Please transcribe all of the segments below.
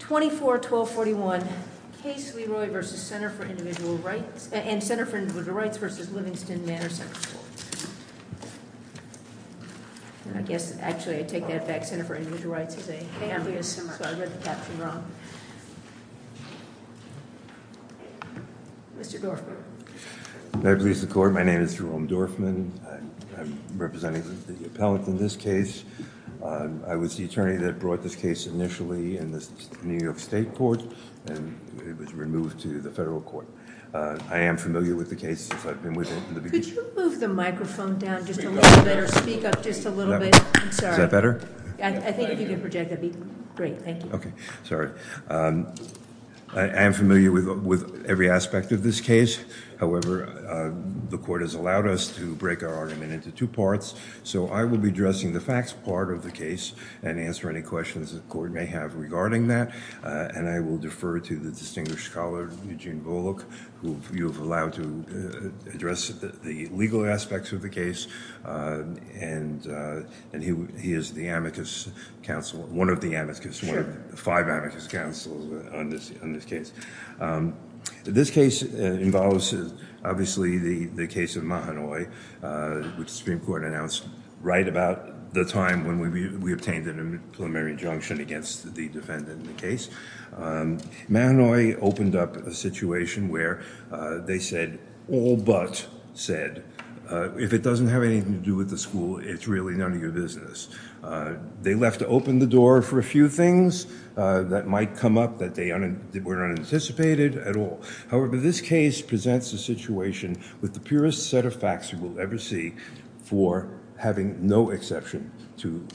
24-1241 Case Leroy v. Center for Individual Rights and Center for Individual Rights v. Livingston Manor Central School. I guess actually I take that back Center for Individual Rights is a family of some sort. I read the caption wrong. Mr. Dorfman. May I please the court. My name is Jerome Dorfman. I'm representing the appellant in this case. I was the attorney that brought this case initially in the New York State court and it was removed to the federal court. I am familiar with the case. Could you move the microphone down just a little bit or speak up just a little bit? Is that better? I think if you could project that would be great. Thank you. I am familiar with every aspect of this case. However, the court has allowed us to break our argument into two parts. So I will be addressing the facts part of the case and answer any questions the court may have regarding that. And I will defer to the distinguished scholar Eugene Volokh who you have allowed to address the legal aspects of the case. And he is the amicus counsel, one of the amicus, one of the five amicus counsel on this case. This case involves obviously the case of Mahanoy which the Supreme Court announced right about the time when we obtained an preliminary injunction against the defendant in the case. Mahanoy opened up a situation where they said all but said if it doesn't have anything to do with the school it's really none of your business. They left to open the door for a few things that might come up that were unanticipated at all. However, this case presents a situation with the purest set of facts you will ever see for having no exception to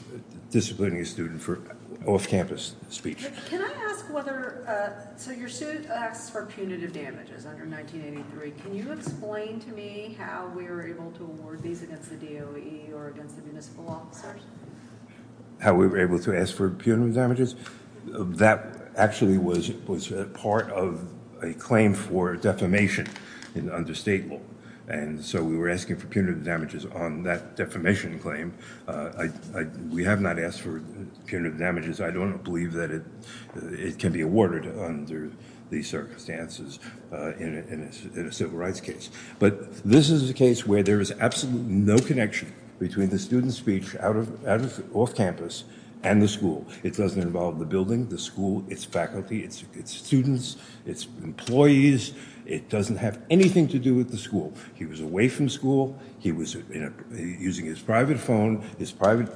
disciplining a student for off-campus speech. Can I ask whether, so your suit asks for punitive damages under 1983. Can you explain to me how we were able to award these against the DOE or against the municipal officers? How we were able to ask for punitive damages? That actually was part of a claim for defamation in under state law. And so we were asking for punitive damages on that defamation claim. We have not asked for punitive damages. I don't believe that it can be awarded under these circumstances in a civil rights case. But this is a case where there is absolutely no connection between the student's speech off campus and the school. It doesn't involve the building, the school, its faculty, its students, its employees. It doesn't have anything to do with the school. He was away from school. He was using his private phone, his private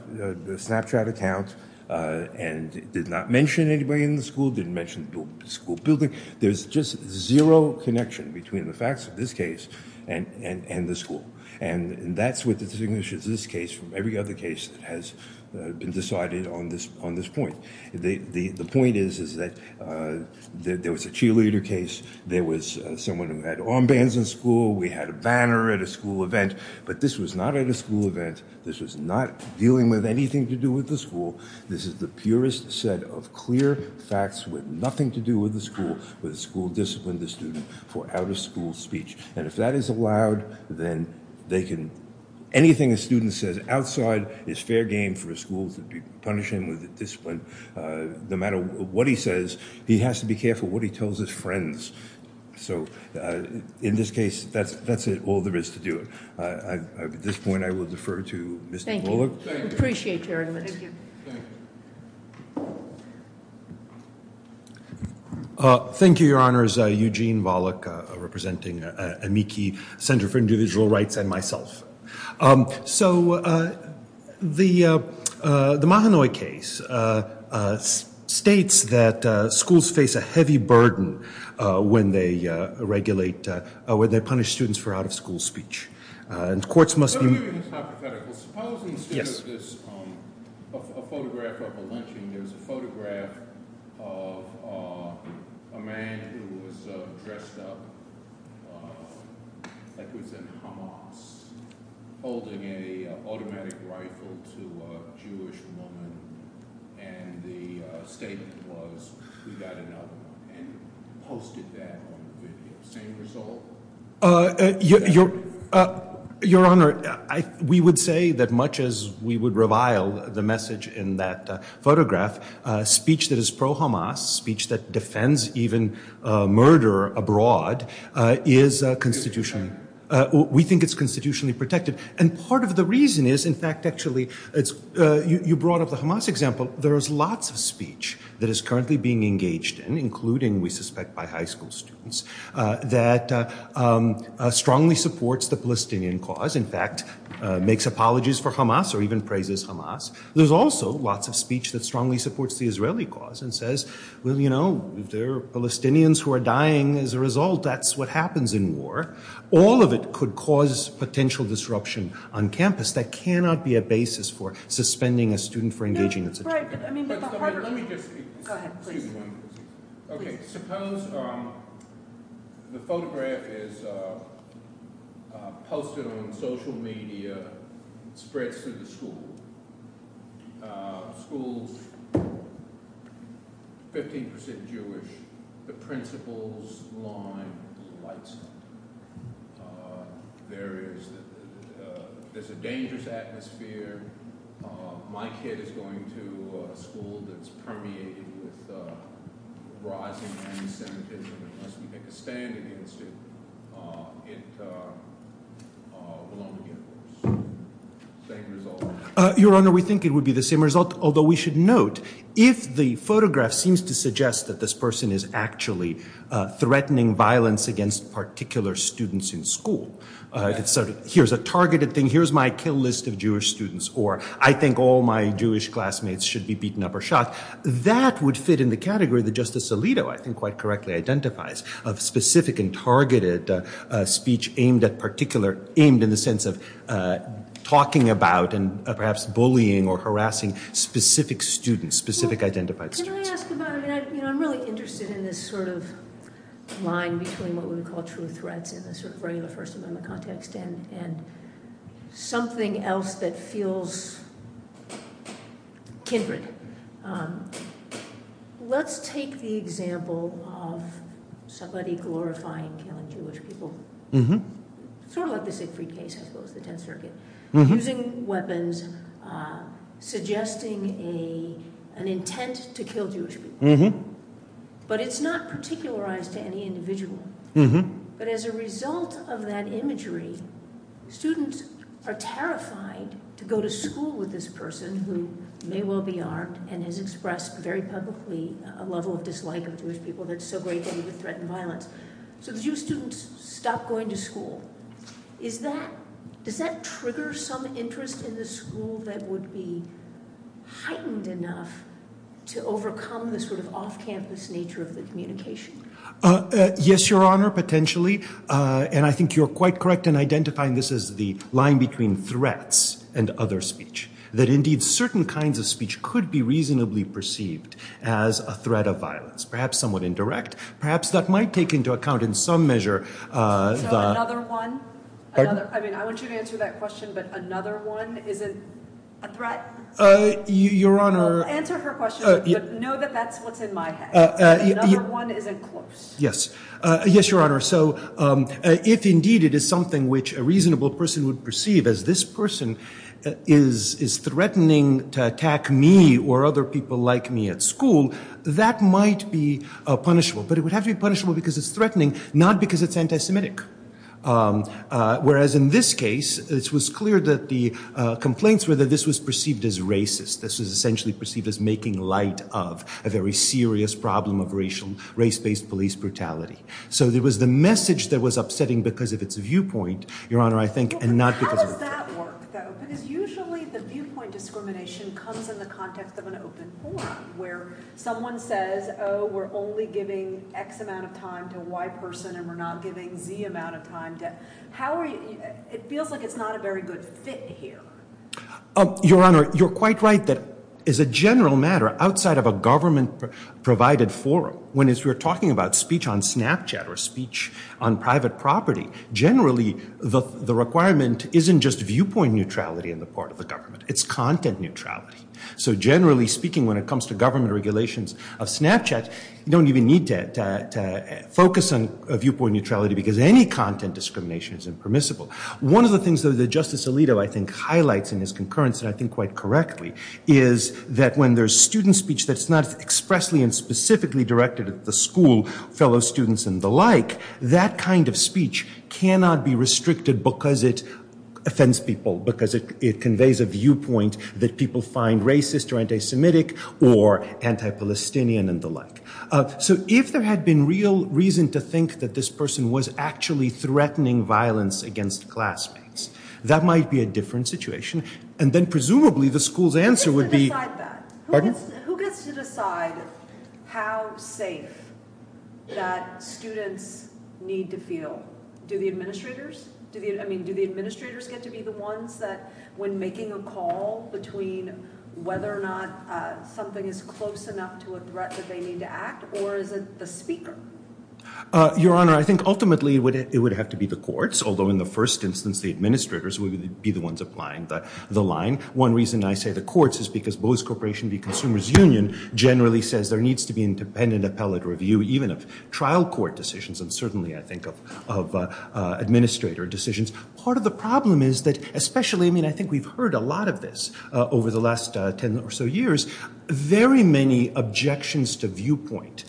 Snapchat account, and did not mention anybody in the school, didn't mention the school building. There's just zero connection between the facts of this case and the school. And that's what distinguishes this case from every other case that has been decided on this point. The point is that there was a cheerleader case. There was someone who had armbands in school. We had a banner at a school event. But this was not at a school event. This was not dealing with anything to do with the school. This is the purest set of clear facts with nothing to do with the school, with the school discipline the student for out of school speech. And if that is allowed, then they can, anything a student says outside is fair game for a school to punish him with a discipline. No matter what he says, he has to be careful what he tells his friends. So in this case, that's it. All there is to do. At this point, I will defer to Mr. Volokh. Thank you. Appreciate your argument. Thank you. Thank you, Your Honors. Eugene Volokh representing Amici Center for Individual Rights and myself. So the Mahanoy case states that schools face a heavy burden when they regulate, when they punish students for out of school speech. Suppose instead of this photograph of a lynching, there's a photograph of a man who was dressed up like he was in Hamas, holding an automatic rifle to a Jewish woman. And the statement was, we've got another one, and posted that on the video. Same result? Your Honor, we would say that much as we would revile the message in that photograph, speech that is pro-Hamas, speech that defends even murder abroad, is constitutionally, we think it's constitutionally protected. And part of the reason is, in fact, actually, you brought up the Hamas example. There's lots of speech that is currently being engaged in, including, we suspect, by high school students, that strongly supports the Palestinian cause, in fact, makes apologies for Hamas or even praises Hamas. There's also lots of speech that strongly supports the Israeli cause and says, well, you know, there are Palestinians who are dying as a result. That's what happens in war. All of it could cause potential disruption on campus. That cannot be a basis for suspending a student for engaging in such activity. Go ahead, please. Okay, suppose the photograph is posted on social media, spreads through the school. The school is 15% Jewish. The principals line the lights up. There's a dangerous atmosphere. My kid is going to a school that's permeated with rising anti-Semitism. Unless we make a stand against it, it will only get worse. Same result? Your Honor, we think it would be the same result, although we should note, if the photograph seems to suggest that this person is actually threatening violence against particular students in school, it's sort of, here's a targeted thing, here's my kill list of Jewish students, or I think all my Jewish classmates should be beaten up or shot, that would fit in the category that Justice Alito, I think, quite correctly identifies, of specific and targeted speech aimed at particular, aimed in the sense of talking about and perhaps bullying or harassing specific students, specific identified students. Can I ask about, I mean, I'm really interested in this sort of line between what we would call true threats in the sort of regular First Amendment context and something else that feels kindred. Let's take the example of somebody glorifying killing Jewish people, sort of like the Siegfried case, I suppose, the Tenth Circuit, using weapons, suggesting an intent to kill Jewish people. But it's not particularized to any individual. But as a result of that imagery, students are terrified to go to school with this person who may well be armed and has expressed very publicly a level of dislike of Jewish people that's so great that he would threaten violence. So the Jewish students stop going to school. Does that trigger some interest in the school that would be heightened enough to overcome the sort of off-campus nature of the communication? Yes, Your Honor, potentially. And I think you're quite correct in identifying this as the line between threats and other speech, that indeed certain kinds of speech could be reasonably perceived as a threat of violence, perhaps somewhat indirect, perhaps that might take into account in some measure. So another one? I mean, I want you to answer that question, but another one isn't a threat? Your Honor. Answer her question, but know that that's what's in my head. Another one isn't close. Yes. Yes, Your Honor. So if indeed it is something which a reasonable person would perceive as this person is threatening to attack me or other people like me at school, that might be punishable. But it would have to be punishable because it's threatening, not because it's anti-Semitic. Whereas in this case, it was clear that the complaints were that this was perceived as racist. This was essentially perceived as making light of a very serious problem of racial, race-based police brutality. So there was the message that was upsetting because of its viewpoint, Your Honor, I think, and not because of it. How does that work, though? Because usually the viewpoint discrimination comes in the context of an open forum where someone says, oh, we're only giving X amount of time to a Y person and we're not giving Z amount of time. How are you – it feels like it's not a very good fit here. Your Honor, you're quite right that as a general matter, outside of a government-provided forum, when we're talking about speech on Snapchat or speech on private property, generally the requirement isn't just viewpoint neutrality on the part of the government. It's content neutrality. So generally speaking, when it comes to government regulations of Snapchat, you don't even need to focus on viewpoint neutrality because any content discrimination is impermissible. One of the things that Justice Alito, I think, highlights in his concurrence, and I think quite correctly, is that when there's student speech that's not expressly and specifically directed at the school, fellow students and the like, that kind of speech cannot be restricted because it offends people, because it conveys a viewpoint that people find racist or anti-Semitic or anti-Palestinian and the like. So if there had been real reason to think that this person was actually threatening violence against classmates, that might be a different situation. And then presumably the school's answer would be – Who gets to decide that? Pardon? Who gets to decide how safe that students need to feel? Do the administrators – I mean, do the administrators get to be the ones that, when making a call between whether or not something is close enough to a threat that they need to act, or is it the speaker? Your Honor, I think ultimately it would have to be the courts, although in the first instance the administrators would be the ones applying the line. One reason I say the courts is because Bose Corporation v. Consumer's Union generally says there needs to be independent appellate review, even of trial court decisions, and certainly, I think, of administrator decisions. Part of the problem is that, especially – I mean, I think we've heard a lot of this over the last ten or so years. Very many objections to viewpoint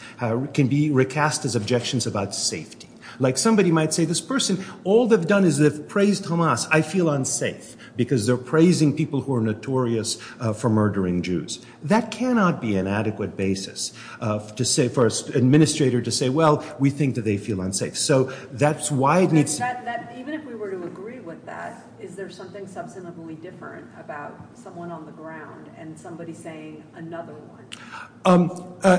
can be recast as objections about safety. Like somebody might say, this person, all they've done is they've praised Hamas. I feel unsafe, because they're praising people who are notorious for murdering Jews. That cannot be an adequate basis for an administrator to say, well, we think that they feel unsafe. So that's why it needs – Even if we were to agree with that, is there something substantively different about someone on the ground and somebody saying another one?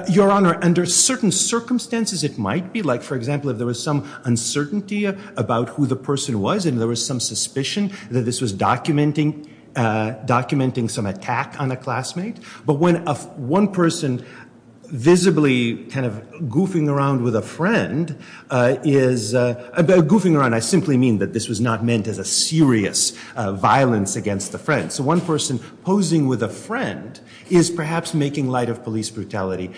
Your Honor, under certain circumstances it might be. Like, for example, if there was some uncertainty about who the person was and there was some suspicion that this was documenting some attack on a classmate, but when one person visibly kind of goofing around with a friend is – goofing around, I simply mean that this was not meant as a serious violence against a friend. So one person posing with a friend is perhaps making light of police brutality.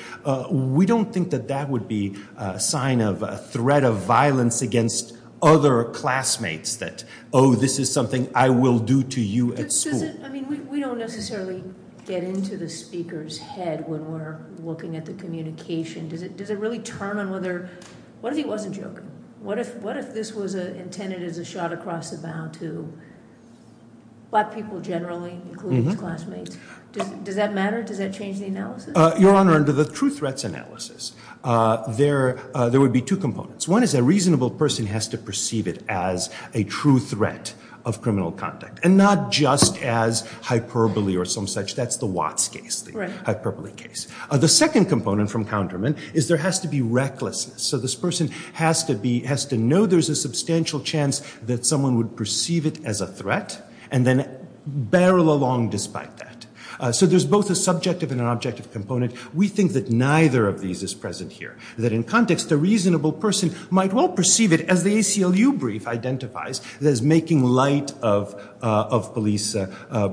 We don't think that that would be a sign of a threat of violence against other classmates that, oh, this is something I will do to you at school. I mean, we don't necessarily get into the speaker's head when we're looking at the communication. Does it really turn on whether – what if he wasn't joking? What if this was intended as a shot across the bow to black people generally, including his classmates? Does that matter? Does that change the analysis? Your Honor, under the true threats analysis, there would be two components. One is a reasonable person has to perceive it as a true threat of criminal conduct and not just as hyperbole or some such. That's the Watts case, the hyperbole case. The second component from Counterman is there has to be recklessness. So this person has to know there's a substantial chance that someone would perceive it as a threat and then barrel along despite that. So there's both a subjective and an objective component. We think that neither of these is present here, that in context a reasonable person might well perceive it as the ACLU brief identifies as making light of police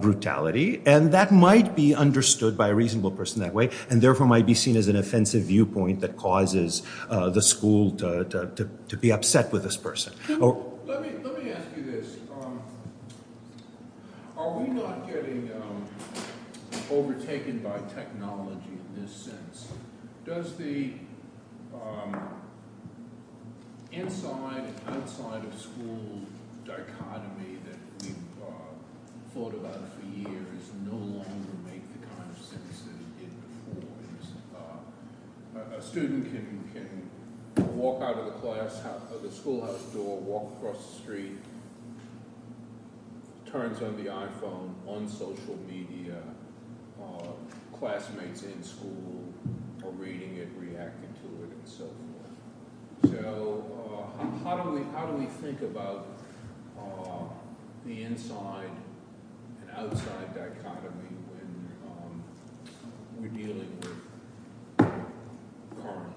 brutality, and that might be understood by a reasonable person that way and therefore might be seen as an offensive viewpoint that causes the school to be upset with this person. Let me ask you this. Are we not getting overtaken by technology in this sense? Does the inside and outside of school dichotomy that we've thought about for years no longer make the kind of sense that it did before? A student can walk out of the schoolhouse door, walk across the street, turns on the iPhone, on social media, classmates in school are reading it, reacting to it, and so forth. So how do we think about the inside and outside dichotomy when we're dealing with current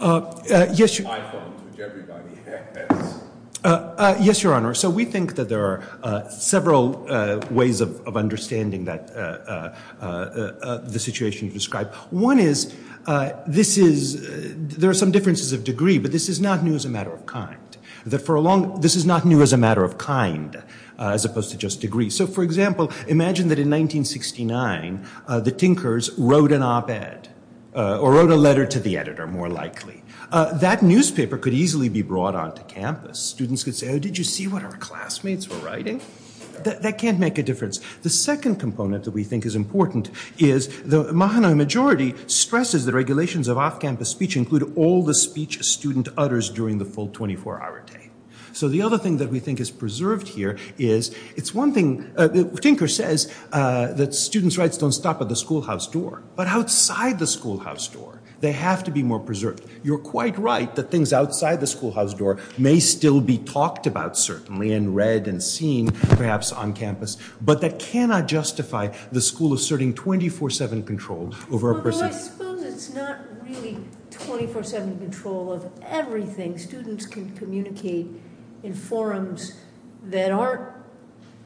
iPhones, which everybody has? Yes, Your Honor. So we think that there are several ways of understanding the situation you've described. One is there are some differences of degree, but this is not new as a matter of kind. This is not new as a matter of kind as opposed to just degree. So, for example, imagine that in 1969 the Tinkers wrote an op-ed or wrote a letter to the editor, more likely. That newspaper could easily be brought onto campus. Students could say, oh, did you see what our classmates were writing? That can't make a difference. The second component that we think is important is the Mahanoy majority stresses that regulations of off-campus speech include all the speech a student utters during the full 24-hour day. So the other thing that we think is preserved here is it's one thing. Tinker says that students' rights don't stop at the schoolhouse door, but outside the schoolhouse door they have to be more preserved. You're quite right that things outside the schoolhouse door may still be talked about, certainly, and read and seen perhaps on campus, but that cannot justify the school asserting 24-7 control over a person. Well, I suppose it's not really 24-7 control of everything. Students can communicate in forums that aren't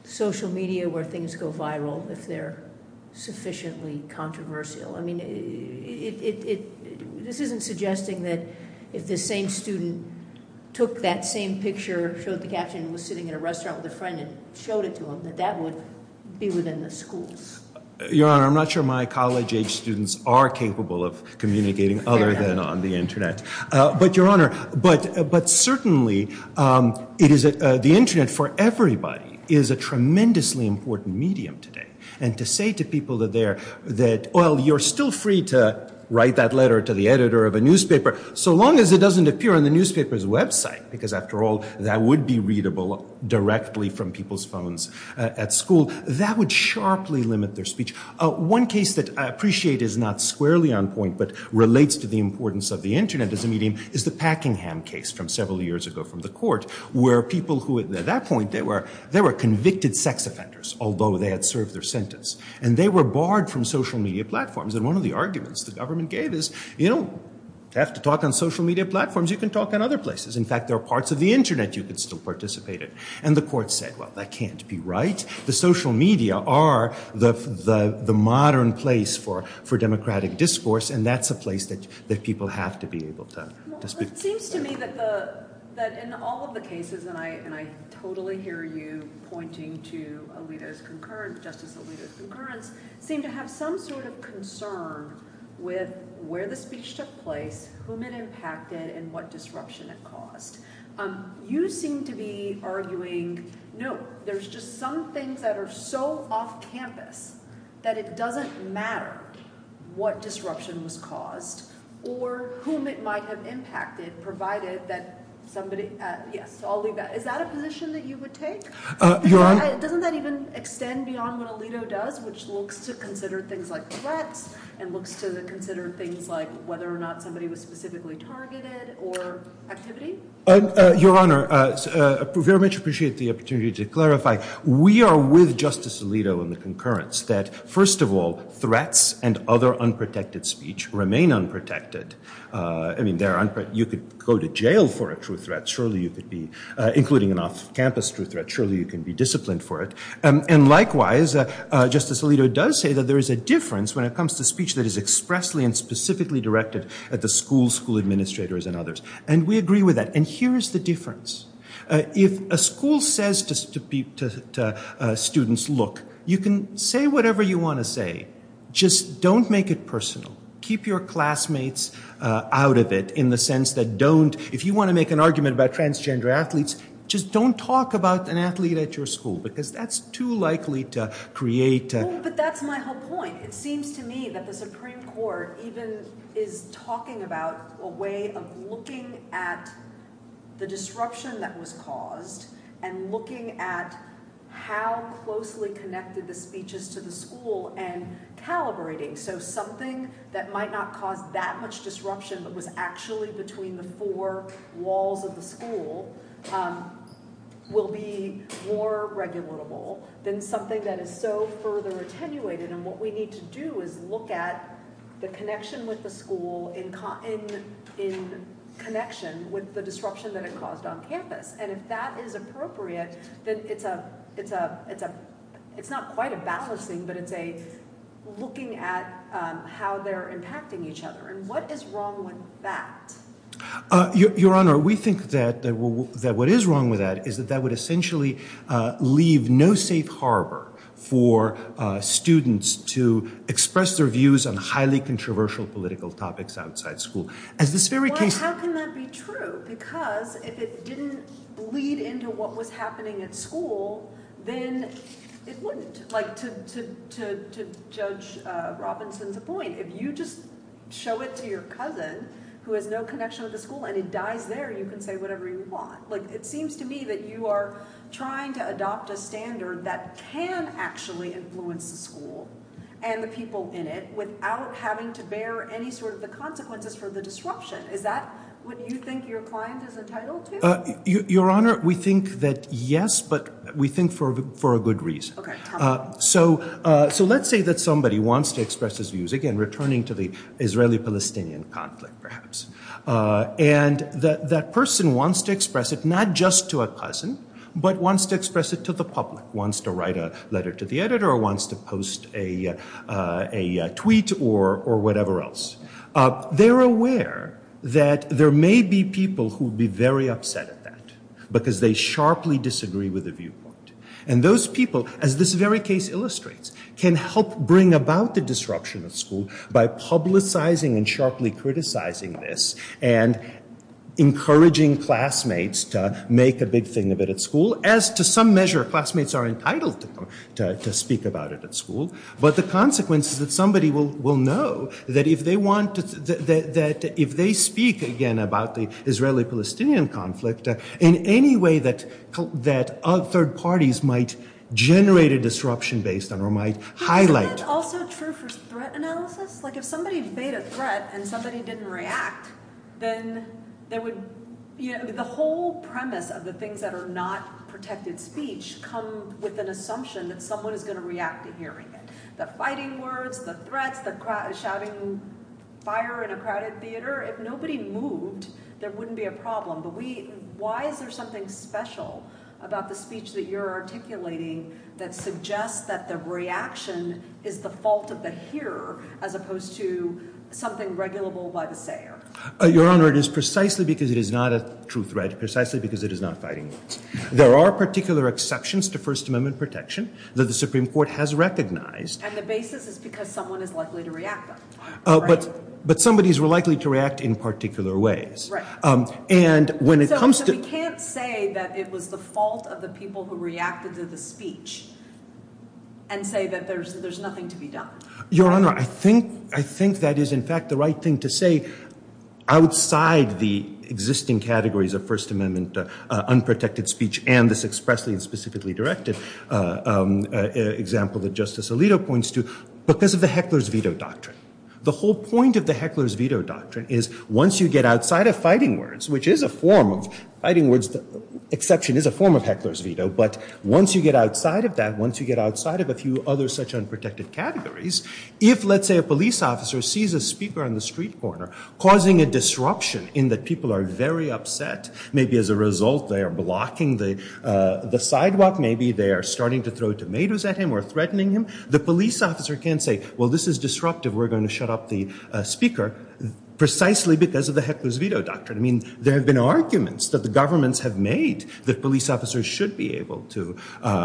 social media where things go viral if they're sufficiently controversial. I mean, this isn't suggesting that if the same student took that same picture, showed the caption, was sitting in a restaurant with a friend and showed it to them, that that would be within the schools. Your Honor, I'm not sure my college-age students are capable of communicating other than on the Internet. But, Your Honor, but certainly the Internet for everybody is a tremendously important medium today, and to say to people that, well, you're still free to write that letter to the editor of a newspaper so long as it doesn't appear on the newspaper's website, because after all that would be readable directly from people's phones at school, that would sharply limit their speech. One case that I appreciate is not squarely on point but relates to the importance of the Internet as a medium is the Packingham case from several years ago from the court, where people who, at that point, they were convicted sex offenders, although they had served their sentence, and they were barred from social media platforms. And one of the arguments the government gave is, you don't have to talk on social media platforms. You can talk on other places. In fact, there are parts of the Internet you can still participate in. And the court said, well, that can't be right. The social media are the modern place for democratic discourse, and that's a place that people have to be able to speak. Well, it seems to me that in all of the cases, and I totally hear you pointing to Alito's concurrent, seem to have some sort of concern with where the speech took place, whom it impacted, and what disruption it caused. You seem to be arguing, no, there's just some things that are so off-campus that it doesn't matter what disruption was caused or whom it might have impacted, provided that somebody, yes, I'll leave that. Is that a position that you would take? Doesn't that even extend beyond what Alito does, which looks to consider things like threats and looks to consider things like whether or not somebody was specifically targeted or activity? Your Honor, I very much appreciate the opportunity to clarify. We are with Justice Alito in the concurrence that, first of all, threats and other unprotected speech remain unprotected. I mean, you could go to jail for a true threat. Surely you could be, including an off-campus true threat, surely you can be disciplined for it. And likewise, Justice Alito does say that there is a difference when it comes to speech that is expressly and specifically directed at the school, school administrators, and others. And we agree with that. And here is the difference. If a school says to students, look, you can say whatever you want to say. Just don't make it personal. Keep your classmates out of it in the sense that don't, if you want to make an argument about transgender athletes, just don't talk about an athlete at your school because that's too likely to create. But that's my whole point. It seems to me that the Supreme Court even is talking about a way of looking at the disruption that was caused and looking at how closely connected the speeches to the school and calibrating. So something that might not cause that much disruption but was actually between the four walls of the school will be more regulatable than something that is so further attenuated. And what we need to do is look at the connection with the school in connection with the disruption that it caused on campus. And if that is appropriate, then it's not quite a balancing, but it's a looking at how they're impacting each other. And what is wrong with that? Your Honor, we think that what is wrong with that is that that would essentially leave no safe harbor for students to express their views on highly controversial political topics outside school. Well, how can that be true? Because if it didn't bleed into what was happening at school, then it wouldn't. Like to Judge Robinson's point, if you just show it to your cousin who has no connection with the school and it dies there, you can say whatever you want. It seems to me that you are trying to adopt a standard that can actually influence the school and the people in it without having to bear any sort of the consequences for the disruption. Is that what you think your client is entitled to? Your Honor, we think that yes, but we think for a good reason. So let's say that somebody wants to express his views. Again, returning to the Israeli-Palestinian conflict, perhaps. And that person wants to express it not just to a cousin, but wants to express it to the public, wants to write a letter to the editor, wants to post a tweet or whatever else. They're aware that there may be people who would be very upset at that because they sharply disagree with the viewpoint. And those people, as this very case illustrates, can help bring about the disruption at school by publicizing and sharply criticizing this and encouraging classmates to make a big thing of it at school. As to some measure, classmates are entitled to speak about it at school. But the consequence is that somebody will know that if they speak again about the Israeli-Palestinian conflict, in any way that third parties might generate a disruption based on or might highlight. Isn't that also true for threat analysis? Like if somebody made a threat and somebody didn't react, then the whole premise of the things that are not protected speech come with an assumption that someone is going to react to hearing it. The fighting words, the threats, the shouting fire in a crowded theater. If nobody moved, there wouldn't be a problem. But why is there something special about the speech that you're articulating that suggests that the reaction is the fault of the hearer as opposed to something regulable by the sayer? Your Honor, it is precisely because it is not a true threat, precisely because it is not fighting words. There are particular exceptions to First Amendment protection that the Supreme Court has recognized. And the basis is because someone is likely to react, right? But somebodies were likely to react in particular ways. So we can't say that it was the fault of the people who reacted to the speech and say that there's nothing to be done. Your Honor, I think that is in fact the right thing to say outside the existing categories of First Amendment unprotected speech and this expressly and specifically directed example that Justice Alito points to because of the heckler's veto doctrine. The whole point of the heckler's veto doctrine is once you get outside of fighting words, which is a form of fighting words, the exception is a form of heckler's veto, but once you get outside of that, once you get outside of a few other such unprotected categories, if let's say a police officer sees a speaker on the street corner causing a disruption in that people are very upset, maybe as a result they are blocking the sidewalk, maybe they are starting to throw tomatoes at him or threatening him, the police officer can't say, well, this is disruptive, we're going to shut up the speaker precisely because of the heckler's veto doctrine. I mean, there have been arguments that the governments have made that police officers should be able to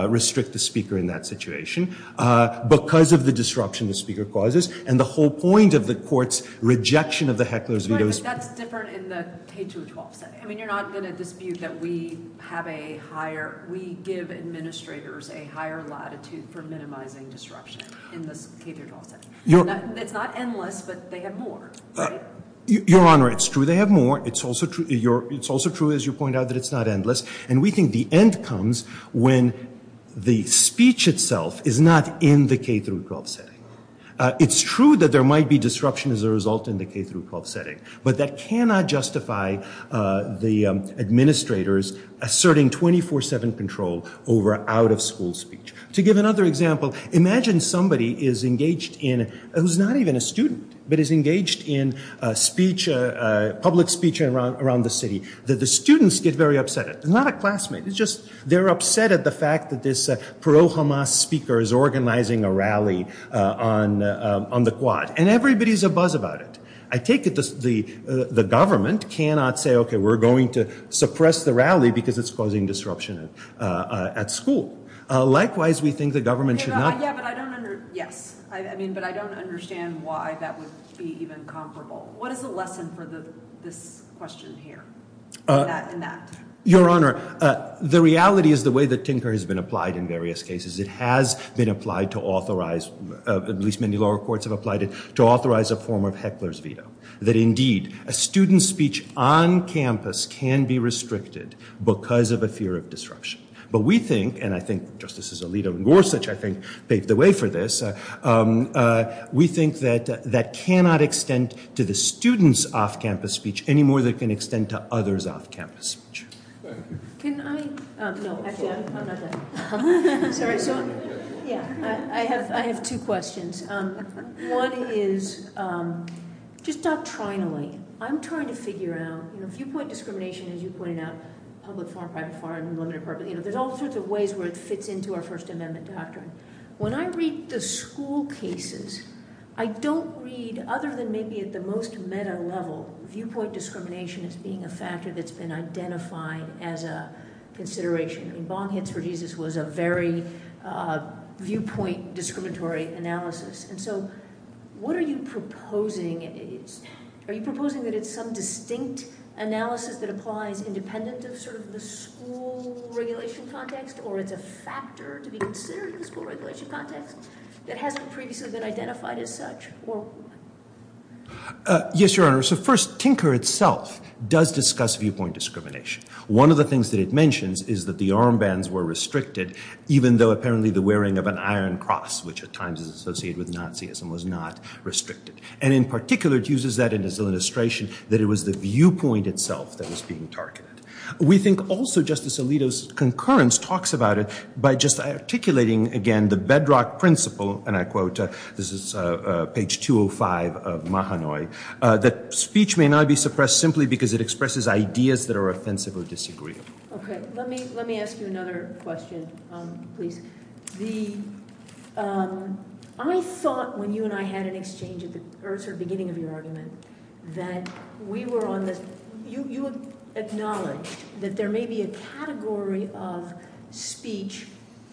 restrict the speaker in that situation because of the disruption the speaker causes and the whole point of the court's rejection of the heckler's veto doctrine. But that's different in the K-12 setting. I mean, you're not going to dispute that we have a higher, we give administrators a higher latitude for minimizing disruption in this K-12 setting. It's not endless, but they have more, right? Your Honor, it's true they have more. It's also true, as you point out, that it's not endless, and we think the end comes when the speech itself is not in the K-12 setting. It's true that there might be disruption as a result in the K-12 setting, but that cannot justify the administrators asserting 24-7 control over out-of-school speech. To give another example, imagine somebody is engaged in, who's not even a student, but is engaged in public speech around the city, that the students get very upset at. They're not a classmate. It's just they're upset at the fact that this Perot-Hamas speaker is organizing a rally on the quad, and everybody's abuzz about it. I take it the government cannot say, okay, we're going to suppress the rally because it's causing disruption at school. Likewise, we think the government should not- Yes, but I don't understand why that would be even comparable. What is the lesson for this question here in that? Your Honor, the reality is the way that Tinker has been applied in various cases. It has been applied to authorize, at least many lower courts have applied it, to authorize a form of heckler's veto, that, indeed, a student's speech on campus can be restricted because of a fear of disruption. But we think, and I think Justices Alito and Gorsuch, I think, paved the way for this, we think that that cannot extend to the students' off-campus speech any more than it can extend to others' off-campus speech. Can I- No, actually, I'm not done. Sorry, so, yeah, I have two questions. One is, just doctrinally, I'm trying to figure out, you know, viewpoint discrimination, as you pointed out, public, foreign, private, foreign, unlimited, you know, there's all sorts of ways where it fits into our First Amendment doctrine. When I read the school cases, I don't read, other than maybe at the most meta level, viewpoint discrimination as being a factor that's been identified as a consideration. I mean, Bong Hits for Jesus was a very viewpoint discriminatory analysis. And so what are you proposing? Are you proposing that it's some distinct analysis that applies independent of sort of the school regulation context, or it's a factor to be considered in the school regulation context that hasn't previously been identified as such? Yes, Your Honor. So, first, Tinker itself does discuss viewpoint discrimination. One of the things that it mentions is that the armbands were restricted, even though apparently the wearing of an iron cross, which at times is associated with Nazism, was not restricted. And in particular, it uses that as an illustration that it was the viewpoint itself that was being targeted. We think also Justice Alito's concurrence talks about it by just articulating, again, the bedrock principle, and I quote, this is page 205 of Mahanoy, that speech may not be suppressed simply because it expresses ideas that are offensive or disagreeable. Okay, let me ask you another question, please. I thought when you and I had an exchange at the beginning of your argument that we were on this, you acknowledged that there may be a category of speech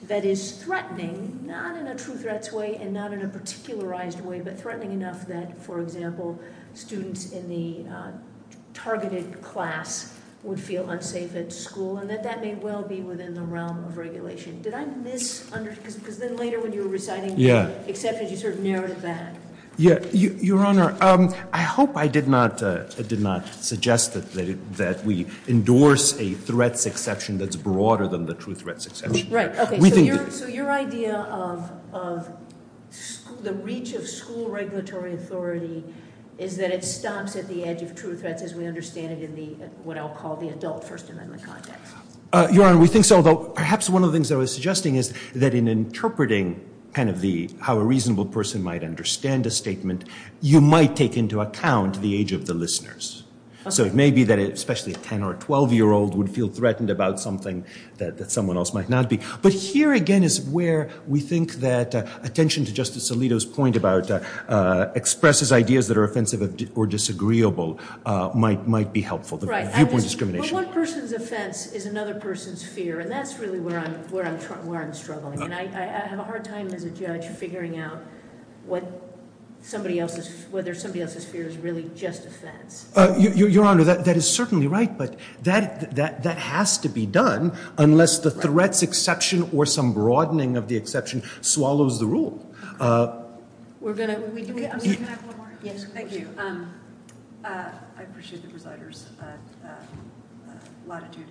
that is threatening, not in a true threats way and not in a particularized way, but threatening enough that, for example, students in the targeted class would feel unsafe at school, and that that may well be within the realm of regulation. Did I miss, because then later when you were reciting the exceptions, you sort of narrowed it back. Your Honor, I hope I did not suggest that we endorse a threats exception that's broader than the true threats exception. Right, okay, so your idea of the reach of school regulatory authority is that it stops at the edge of true threats as we understand it in what I'll call the adult First Amendment context. Your Honor, we think so, although perhaps one of the things I was suggesting is that in interpreting kind of the how a reasonable person might understand a statement, you might take into account the age of the listeners. So it may be that especially a 10 or a 12-year-old would feel threatened about something that someone else might not be. But here again is where we think that attention to Justice Alito's point about expresses ideas that are offensive or disagreeable might be helpful, the viewpoint discrimination. Right, but one person's offense is another person's fear, and that's really where I'm struggling. And I have a hard time as a judge figuring out whether somebody else's fear is really just offense. Your Honor, that is certainly right, but that has to be done unless the threats exception or some broadening of the exception swallows the rule. Can we come back one more? Yes, of course. Thank you. I appreciate the presider's latitude.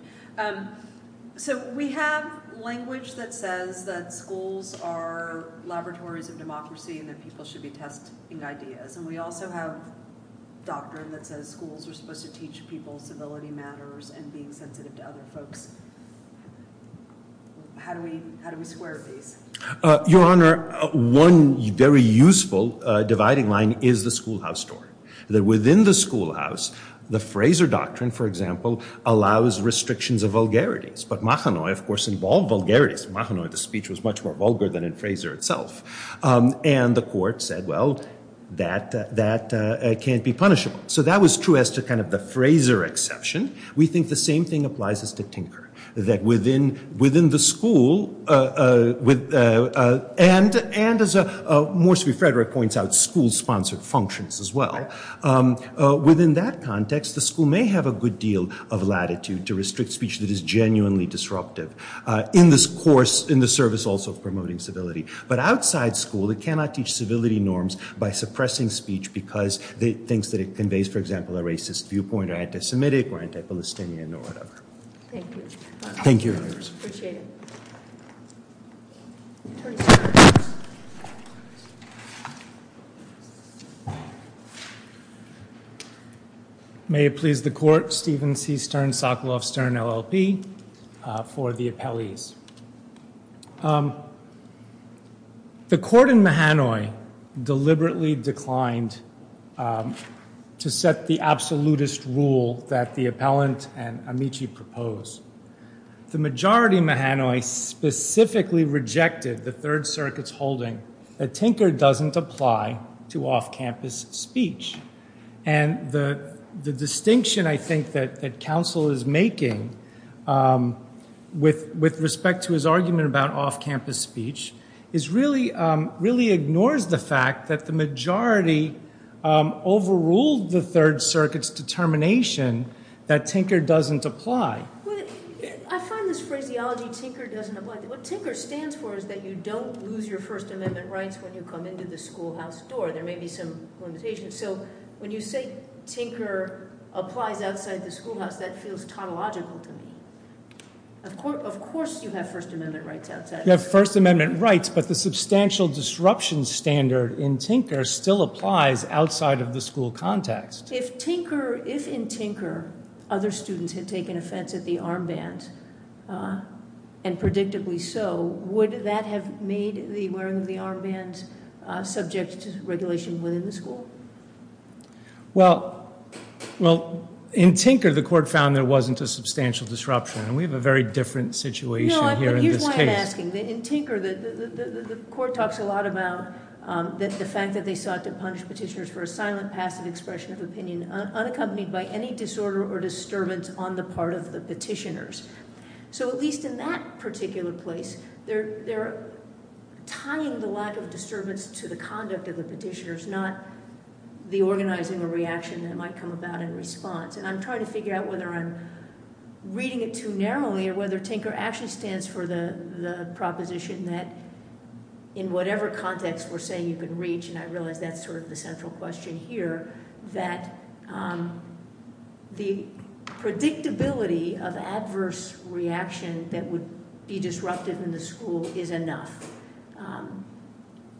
So we have language that says that schools are laboratories of democracy and that people should be testing ideas. And we also have doctrine that says schools are supposed to teach people civility matters and being sensitive to other folks. How do we square these? Your Honor, one very useful dividing line is the schoolhouse story. That within the schoolhouse, the Frazer doctrine, for example, allows restrictions of vulgarities. But Mahanoy, of course, involved vulgarities. In Mahanoy, the speech was much more vulgar than in Frazer itself. And the court said, well, that can't be punishable. So that was true as to kind of the Frazer exception. We think the same thing applies as to Tinker. That within the school, and as Morsi Frederick points out, school-sponsored functions as well. Within that context, the school may have a good deal of latitude to restrict speech that is genuinely disruptive in this course, in the service also of promoting civility. But outside school, it cannot teach civility norms by suppressing speech because it thinks that it conveys, for example, a racist viewpoint or anti-Semitic or anti-Palestinian or whatever. Thank you. Appreciate it. May it please the court, Stephen C. Stern, Sokoloff Stern, LLP, for the appellees. The court in Mahanoy deliberately declined to set the absolutist rule that the appellant and Amici proposed. The majority in Mahanoy specifically rejected the Third Circuit's holding that Tinker doesn't apply to off-campus speech. And the distinction, I think, that counsel is making with respect to his argument about off-campus speech really ignores the fact that the majority overruled the Third Circuit's determination that Tinker doesn't apply. I find this phraseology, Tinker doesn't apply. What Tinker stands for is that you don't lose your First Amendment rights when you come into the schoolhouse door. There may be some limitations. So when you say Tinker applies outside the schoolhouse, that feels tautological to me. Of course you have First Amendment rights outside. You have First Amendment rights, but the substantial disruption standard in Tinker still applies outside of the school context. If in Tinker other students had taken offense at the armbands, and predictably so, would that have made the wearing of the armbands subject to regulation within the school? Well, in Tinker the court found there wasn't a substantial disruption. And we have a very different situation here in this case. Here's why I'm asking. In Tinker, the court talks a lot about the fact that they sought to punish petitioners for a silent, passive expression of opinion unaccompanied by any disorder or disturbance on the part of the petitioners. So at least in that particular place, they're tying the lack of disturbance to the conduct of the petitioners, not the organizing or reaction that might come about in response. And I'm trying to figure out whether I'm reading it too narrowly or whether Tinker actually stands for the proposition that in whatever context we're saying you can reach, and I realize that's sort of the central question here, that the predictability of adverse reaction that would be disruptive in the school is enough.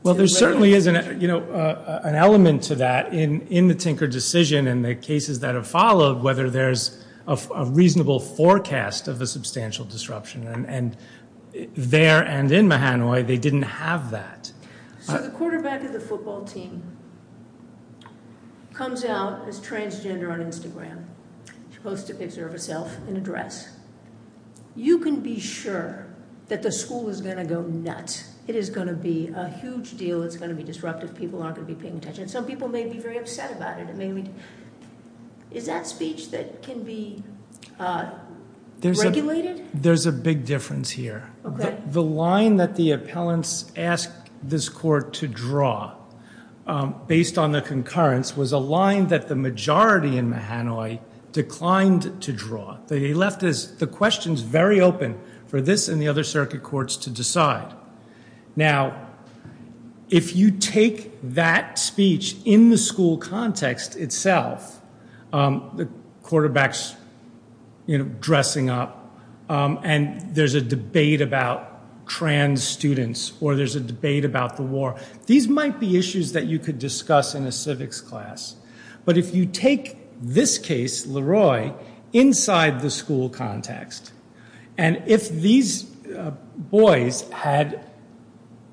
Well, there certainly is an element to that in the Tinker decision and the cases that have followed whether there's a reasonable forecast of a substantial disruption. And there and in Mahanoy, they didn't have that. So the quarterback of the football team comes out as transgender on Instagram. She posts a picture of herself in a dress. You can be sure that the school is going to go nuts. It is going to be a huge deal. It's going to be disruptive. People aren't going to be paying attention. Some people may be very upset about it. Is that speech that can be regulated? There's a big difference here. The line that the appellants asked this court to draw based on the concurrence was a line that the majority in Mahanoy declined to draw. They left the questions very open for this and the other circuit courts to decide. Now, if you take that speech in the school context itself, the quarterback's dressing up and there's a debate about trans students or there's a debate about the war. These might be issues that you could discuss in a civics class. But if you take this case, Leroy, inside the school context, and if these boys had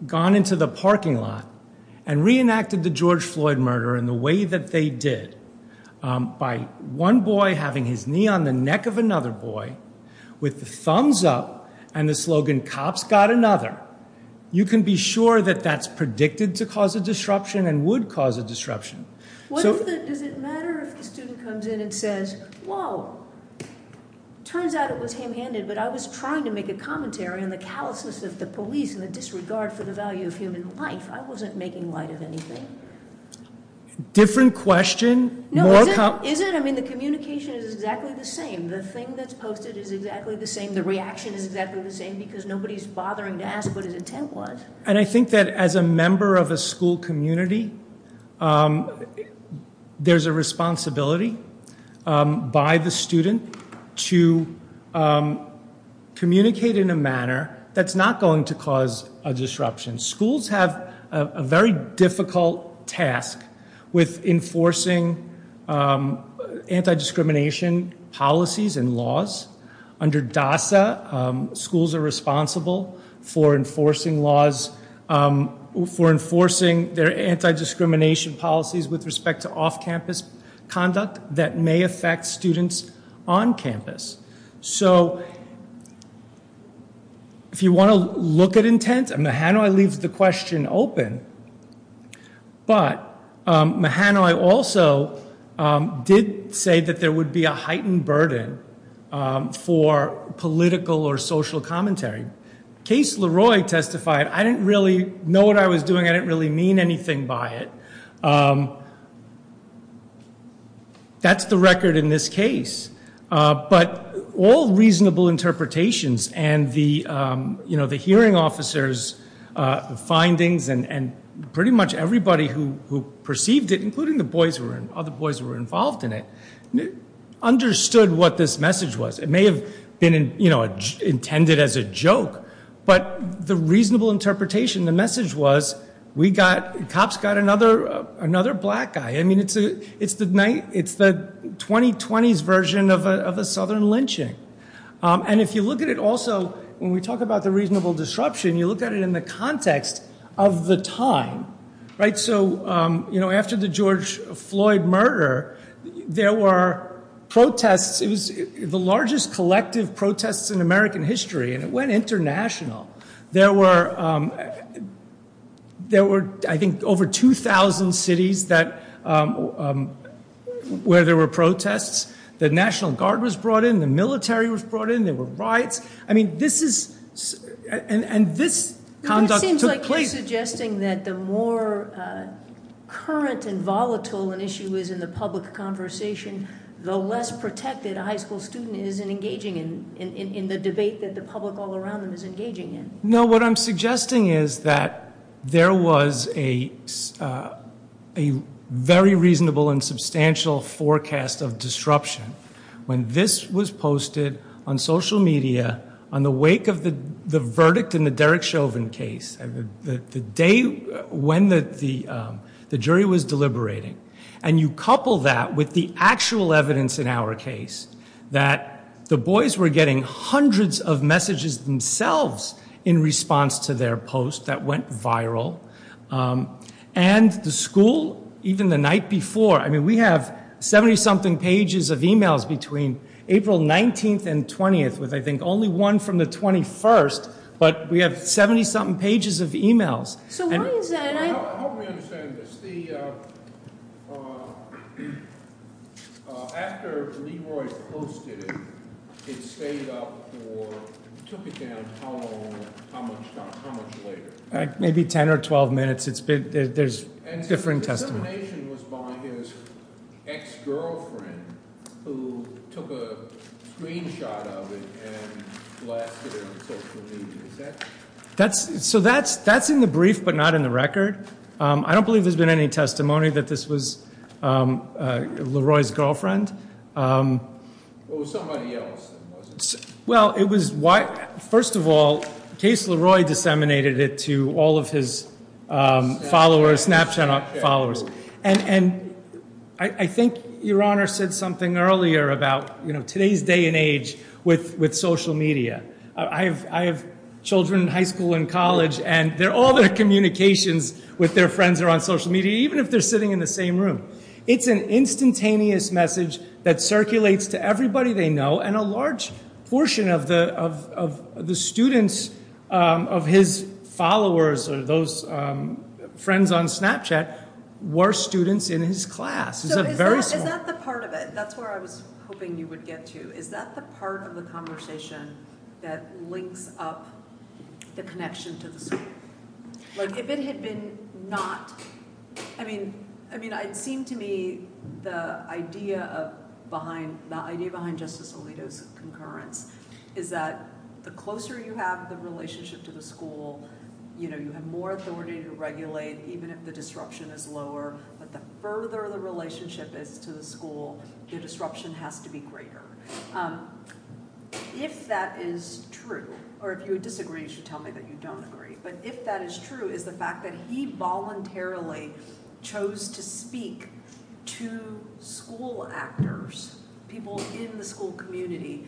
gone into the parking lot and reenacted the George Floyd murder in the way that they did, by one boy having his knee on the neck of another boy with the thumbs up and the slogan, cops got another, you can be sure that that's predicted to cause a disruption and would cause a disruption. Does it matter if the student comes in and says, Whoa, turns out it was him handed, but I was trying to make a commentary on the callousness of the police and the disregard for the value of human life. I wasn't making light of anything. Different question. No, is it? I mean, the communication is exactly the same. The thing that's posted is exactly the same. The reaction is exactly the same because nobody's bothering to ask what his intent was. And I think that as a member of a school community, there's a responsibility by the student to communicate in a manner that's not going to cause a disruption. Schools have a very difficult task with enforcing anti-discrimination policies and laws. Under DASA, schools are responsible for enforcing laws, for enforcing their anti-discrimination policies with respect to off-campus conduct that may affect students on campus. So if you want to look at intent, Mahanoy leaves the question open, but Mahanoy also did say that there would be a heightened burden for political or social commentary. Case Leroy testified, I didn't really know what I was doing. I didn't really mean anything by it. That's the record in this case. But all reasonable interpretations and the hearing officers' findings and pretty much everybody who perceived it, including the boys who were involved in it, understood what this message was. It may have been intended as a joke, but the reasonable interpretation, the message was, cops got another black guy. It's the 2020s version of a southern lynching. And if you look at it also, when we talk about the reasonable disruption, you look at it in the context of the time. After the George Floyd murder, there were protests. It was the largest collective protest in American history, and it went international. There were, I think, over 2,000 cities where there were protests. The National Guard was brought in. The military was brought in. There were riots. I mean, this is, and this conduct took place. It seems like you're suggesting that the more current and volatile an issue is in the public conversation, the less protected a high school student is in engaging in the debate that the public all around them is engaging in. No, what I'm suggesting is that there was a very reasonable and substantial forecast of disruption when this was posted on social media on the wake of the verdict in the Derek Chauvin case, the day when the jury was deliberating, and you couple that with the actual evidence in our case, that the boys were getting hundreds of messages themselves in response to their post that went viral, and the school, even the night before. I mean, we have 70-something pages of e-mails between April 19th and 20th, with, I think, only one from the 21st, but we have 70-something pages of e-mails. So why is that? Help me understand this. After Leroy posted it, it stayed up for, took it down, how long, how much later? Maybe 10 or 12 minutes. There's different testimony. And the dissemination was by his ex-girlfriend, who took a screenshot of it and blasted it on social media. So that's in the brief, but not in the record. I don't believe there's been any testimony that this was Leroy's girlfriend. Well, it was somebody else. Well, it was why, first of all, Case Leroy disseminated it to all of his followers, Snapchat followers. And I think Your Honor said something earlier about, you know, today's day and age with social media. I have children in high school and college, and all their communications with their friends are on social media, even if they're sitting in the same room. It's an instantaneous message that circulates to everybody they know, and a large portion of the students of his followers or those friends on Snapchat were students in his class. So is that the part of it? That's where I was hoping you would get to. Is that the part of the conversation that links up the connection to the school? Like, if it had been not—I mean, it seemed to me the idea behind Justice Alito's concurrence is that the closer you have the relationship to the school, you know, you have more authority to regulate, even if the disruption is lower. But the further the relationship is to the school, the disruption has to be greater. If that is true—or if you disagree, you should tell me that you don't agree— but if that is true is the fact that he voluntarily chose to speak to school actors, people in the school community,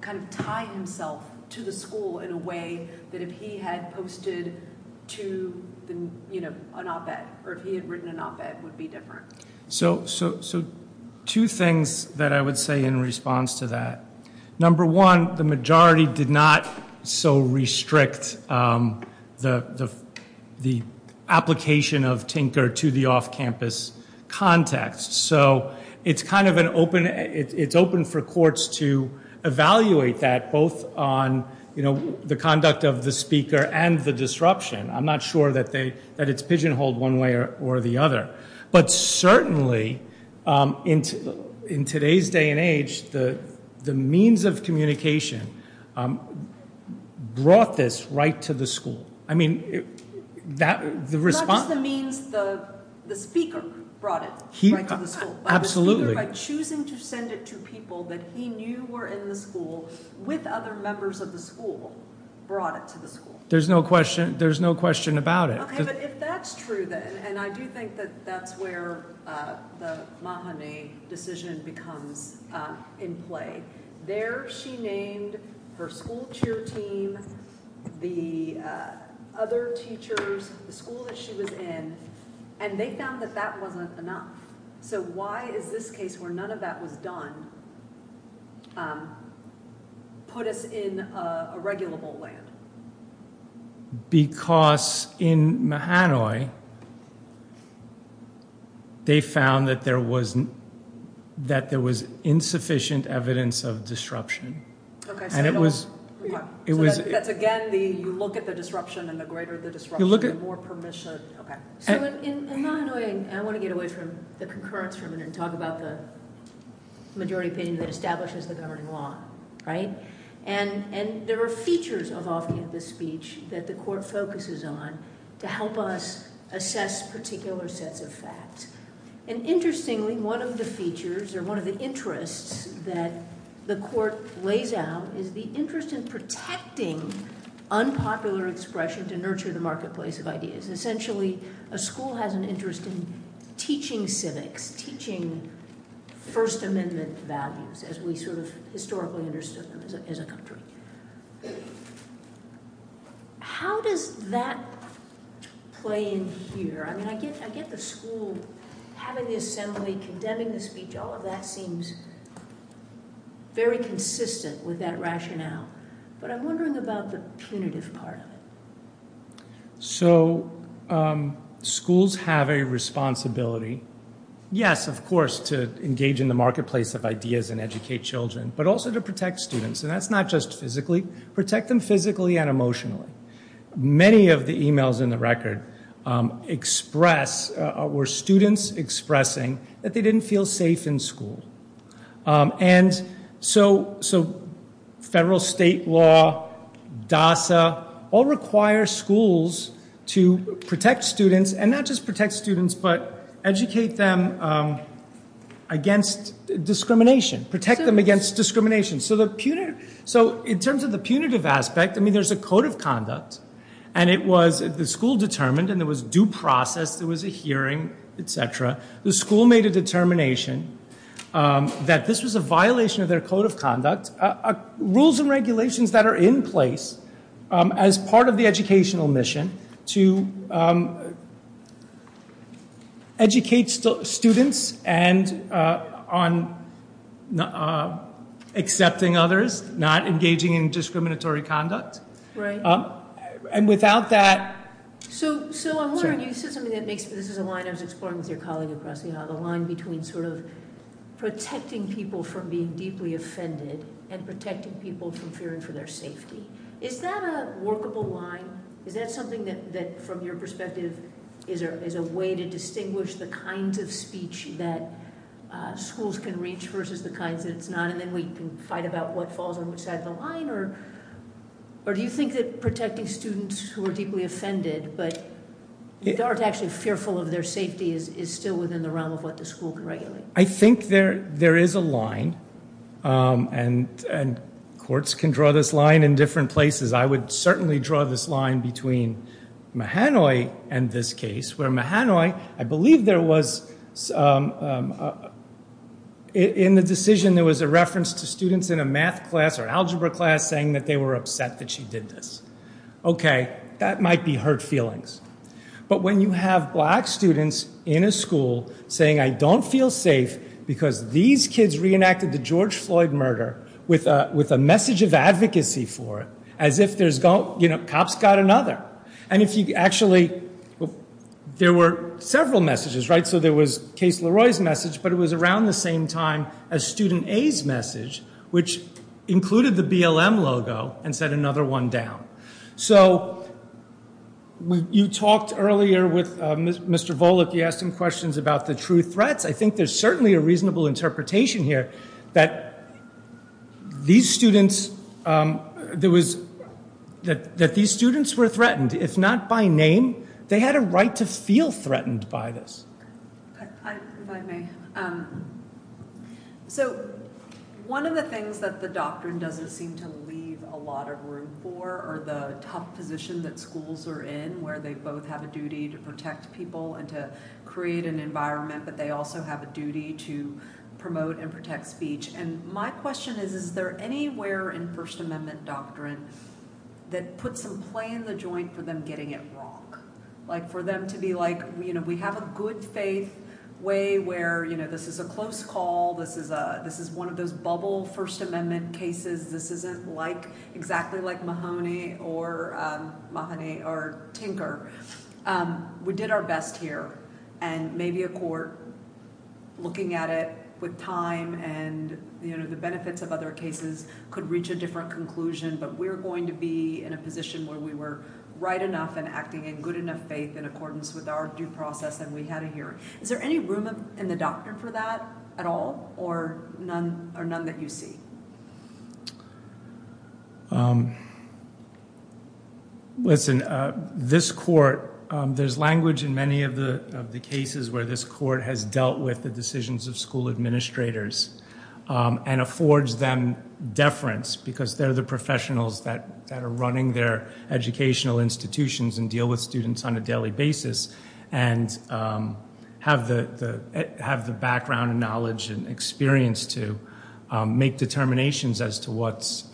kind of tie himself to the school in a way that if he had posted to, you know, an op-ed, or if he had written an op-ed, would be different. So two things that I would say in response to that. Number one, the majority did not so restrict the application of Tinker to the off-campus context. So it's kind of an open—it's open for courts to evaluate that, both on, you know, the conduct of the speaker and the disruption. I'm not sure that it's pigeonholed one way or the other. But certainly in today's day and age, the means of communication brought this right to the school. I mean, the response— Not just the means, the speaker brought it right to the school. Absolutely. By choosing to send it to people that he knew were in the school with other members of the school brought it to the school. There's no question about it. Okay, but if that's true, then—and I do think that that's where the Mahané decision becomes in play. There she named her school cheer team, the other teachers, the school that she was in, and they found that that wasn't enough. So why is this case, where none of that was done, put us in a regulable land? Because in Mahané, they found that there was insufficient evidence of disruption. Okay, so— And it was— So that's, again, you look at the disruption, and the greater the disruption, the more permission— Okay. So in Mahané, I want to get away from the concurrence for a minute and talk about the majority opinion that establishes the governing law, right? And there are features of opinion in this speech that the court focuses on to help us assess particular sets of facts. And interestingly, one of the features or one of the interests that the court lays out is the interest in protecting unpopular expression to nurture the marketplace of ideas. Essentially, a school has an interest in teaching civics, teaching First Amendment values as we sort of historically understood them as a country. How does that play in here? I mean, I get the school having the assembly, condemning the speech. All of that seems very consistent with that rationale. But I'm wondering about the punitive part of it. So schools have a responsibility, yes, of course, to engage in the marketplace of ideas and educate children, but also to protect students. And that's not just physically. Protect them physically and emotionally. Many of the emails in the record express—were students expressing that they didn't feel safe in school. And so federal state law, DASA, all require schools to protect students. And not just protect students, but educate them against discrimination. Protect them against discrimination. So in terms of the punitive aspect, I mean, there's a code of conduct. And the school determined, and there was due process, there was a hearing, et cetera. The school made a determination that this was a violation of their code of conduct. Rules and regulations that are in place as part of the educational mission to educate students on accepting others, not engaging in discriminatory conduct. Right. And without that— So I'm wondering, you said something that makes—this is a line I was exploring with your colleague across the aisle. The line between sort of protecting people from being deeply offended and protecting people from fearing for their safety. Is that a workable line? Is that something that, from your perspective, is a way to distinguish the kinds of speech that schools can reach versus the kinds that it's not? And then we can fight about what falls on which side of the line? Or do you think that protecting students who are deeply offended but aren't actually fearful of their safety is still within the realm of what the school can regulate? I think there is a line, and courts can draw this line in different places. I would certainly draw this line between Mahanoy and this case, where Mahanoy—I believe there was, in the decision, there was a reference to students in a math class or algebra class saying that they were upset that she did this. Okay. That might be hurt feelings. But when you have black students in a school saying, I don't feel safe because these kids reenacted the George Floyd murder with a message of advocacy for it, as if cops got another. And if you actually—there were several messages, right? So there was Case Leroy's message, but it was around the same time as student A's message, which included the BLM logo and set another one down. So you talked earlier with Mr. Volokh. You asked him questions about the true threats. I think there's certainly a reasonable interpretation here that these students were threatened, if not by name. They had a right to feel threatened by this. If I may. So one of the things that the doctrine doesn't seem to leave a lot of room for are the tough position that schools are in, where they both have a duty to protect people and to create an environment, but they also have a duty to promote and protect speech. And my question is, is there anywhere in First Amendment doctrine that puts some play in the joint for them getting it wrong? For them to be like, we have a good faith way where this is a close call, this is one of those bubble First Amendment cases, this isn't exactly like Mahoney or Tinker. We did our best here, and maybe a court looking at it with time and the benefits of other cases could reach a different conclusion, but we're going to be in a position where we were right enough and acting in good enough faith in accordance with our due process and we had a hearing. Is there any room in the doctrine for that at all, or none that you see? Listen, this court, there's language in many of the cases where this court has dealt with the decisions of school administrators and affords them deference because they're the professionals that are running their educational institutions and deal with students on a daily basis and have the background and knowledge and experience to make determinations as to what's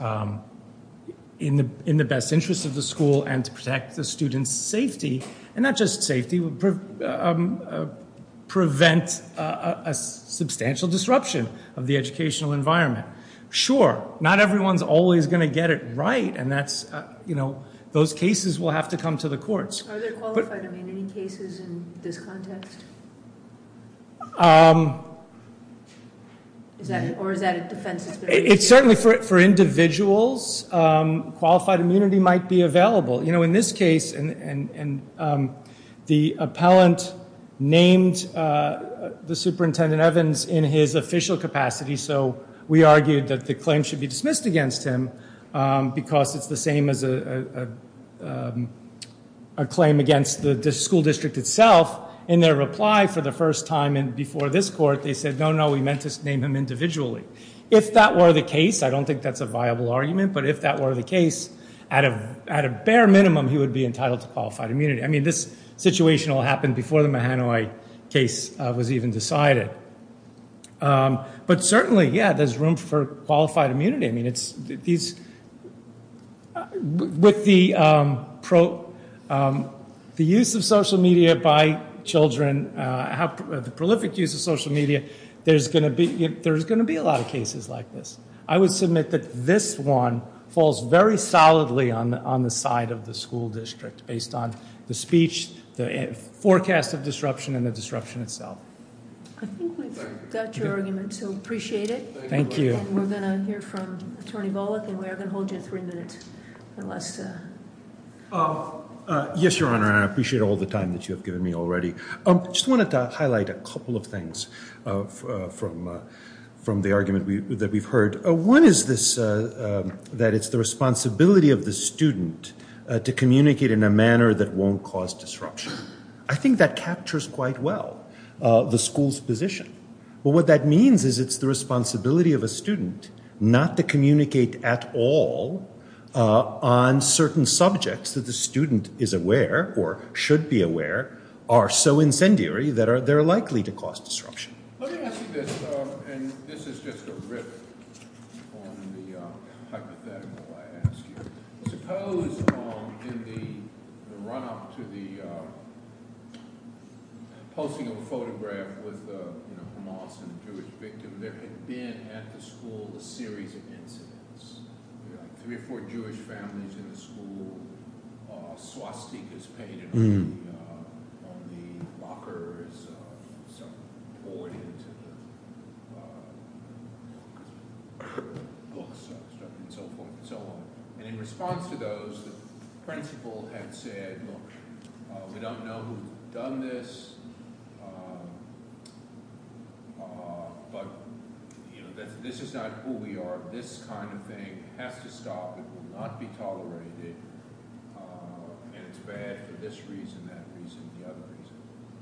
in the best interest of the school and to protect the student's safety. And not just safety, prevent a substantial disruption of the educational environment. Sure, not everyone's always going to get it right, and those cases will have to come to the courts. Are there qualified immunity cases in this context? Or is that a defense? It's certainly for individuals. Qualified immunity might be available. You know, in this case, the appellant named the Superintendent Evans in his official capacity, so we argued that the claim should be dismissed against him because it's the same as a claim against the school district itself. In their reply for the first time before this court, they said, no, no, we meant to name him individually. If that were the case, I don't think that's a viable argument, but if that were the case, at a bare minimum, he would be entitled to qualified immunity. I mean, this situation will happen before the Mahanoy case was even decided. But certainly, yeah, there's room for qualified immunity. I mean, with the use of social media by children, the prolific use of social media, there's going to be a lot of cases like this. I would submit that this one falls very solidly on the side of the school district based on the speech, the forecast of disruption, and the disruption itself. I think we've got your argument, so appreciate it. Thank you. And we're going to hear from Attorney Volokh, and we are going to hold you three minutes. Yes, Your Honor, and I appreciate all the time that you have given me already. I just wanted to highlight a couple of things from the argument that we've heard. One is that it's the responsibility of the student to communicate in a manner that won't cause disruption. I think that captures quite well the school's position. But what that means is it's the responsibility of a student not to communicate at all on certain subjects that the student is aware or should be aware are so incendiary that they're likely to cause disruption. Let me ask you this, and this is just a riff on the hypothetical I asked you. Suppose in the run-up to the posting of a photograph with Hamas and a Jewish victim, there had been at the school a series of incidents. Three or four Jewish families in the school, swastikas painted on the lockers, poured into the books, and so forth and so on. And in response to those, the principal had said, look, we don't know who's done this, but this is not who we are. This kind of thing has to stop. It will not be tolerated, and it's bad for this reason, that reason, the other reason.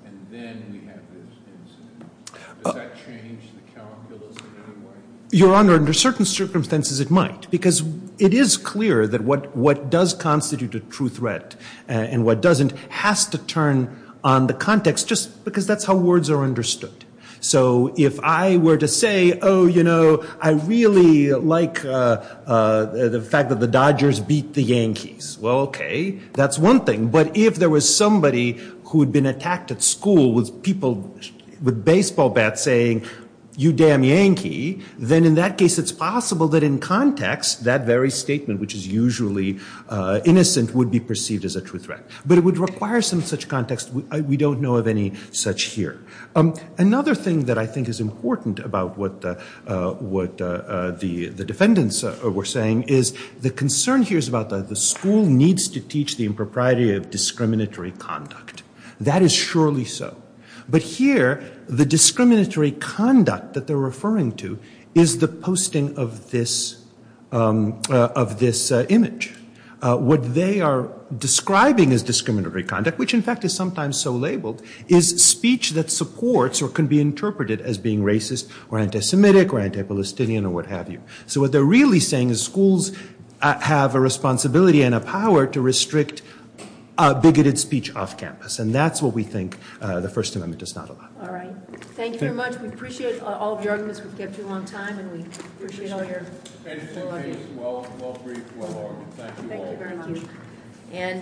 And then we have this incident. Does that change the calculus in any way? Your Honor, under certain circumstances, it might. Because it is clear that what does constitute a true threat and what doesn't has to turn on the context just because that's how words are understood. So if I were to say, oh, you know, I really like the fact that the Dodgers beat the Yankees, well, OK, that's one thing. But if there was somebody who had been attacked at school with baseball bats saying, you damn Yankee, then in that case, it's possible that in context, that very statement, which is usually innocent, would be perceived as a true threat. But it would require some such context. We don't know of any such here. Another thing that I think is important about what the defendants were saying is the concern here is about the school needs to teach the impropriety of discriminatory conduct. That is surely so. But here, the discriminatory conduct that they're referring to is the posting of this image. What they are describing as discriminatory conduct, which, in fact, is sometimes so labeled, is speech that supports or can be interpreted as being racist or anti-Semitic or anti-Palestinian or what have you. So what they're really saying is schools have a responsibility and a power to restrict bigoted speech off campus. And that's what we think the First Amendment does not allow. All right. Thank you very much. We appreciate all of your arguments. We've kept you a long time. And we appreciate all your- And, in any case, well-briefed, well-armed. Thank you all very much.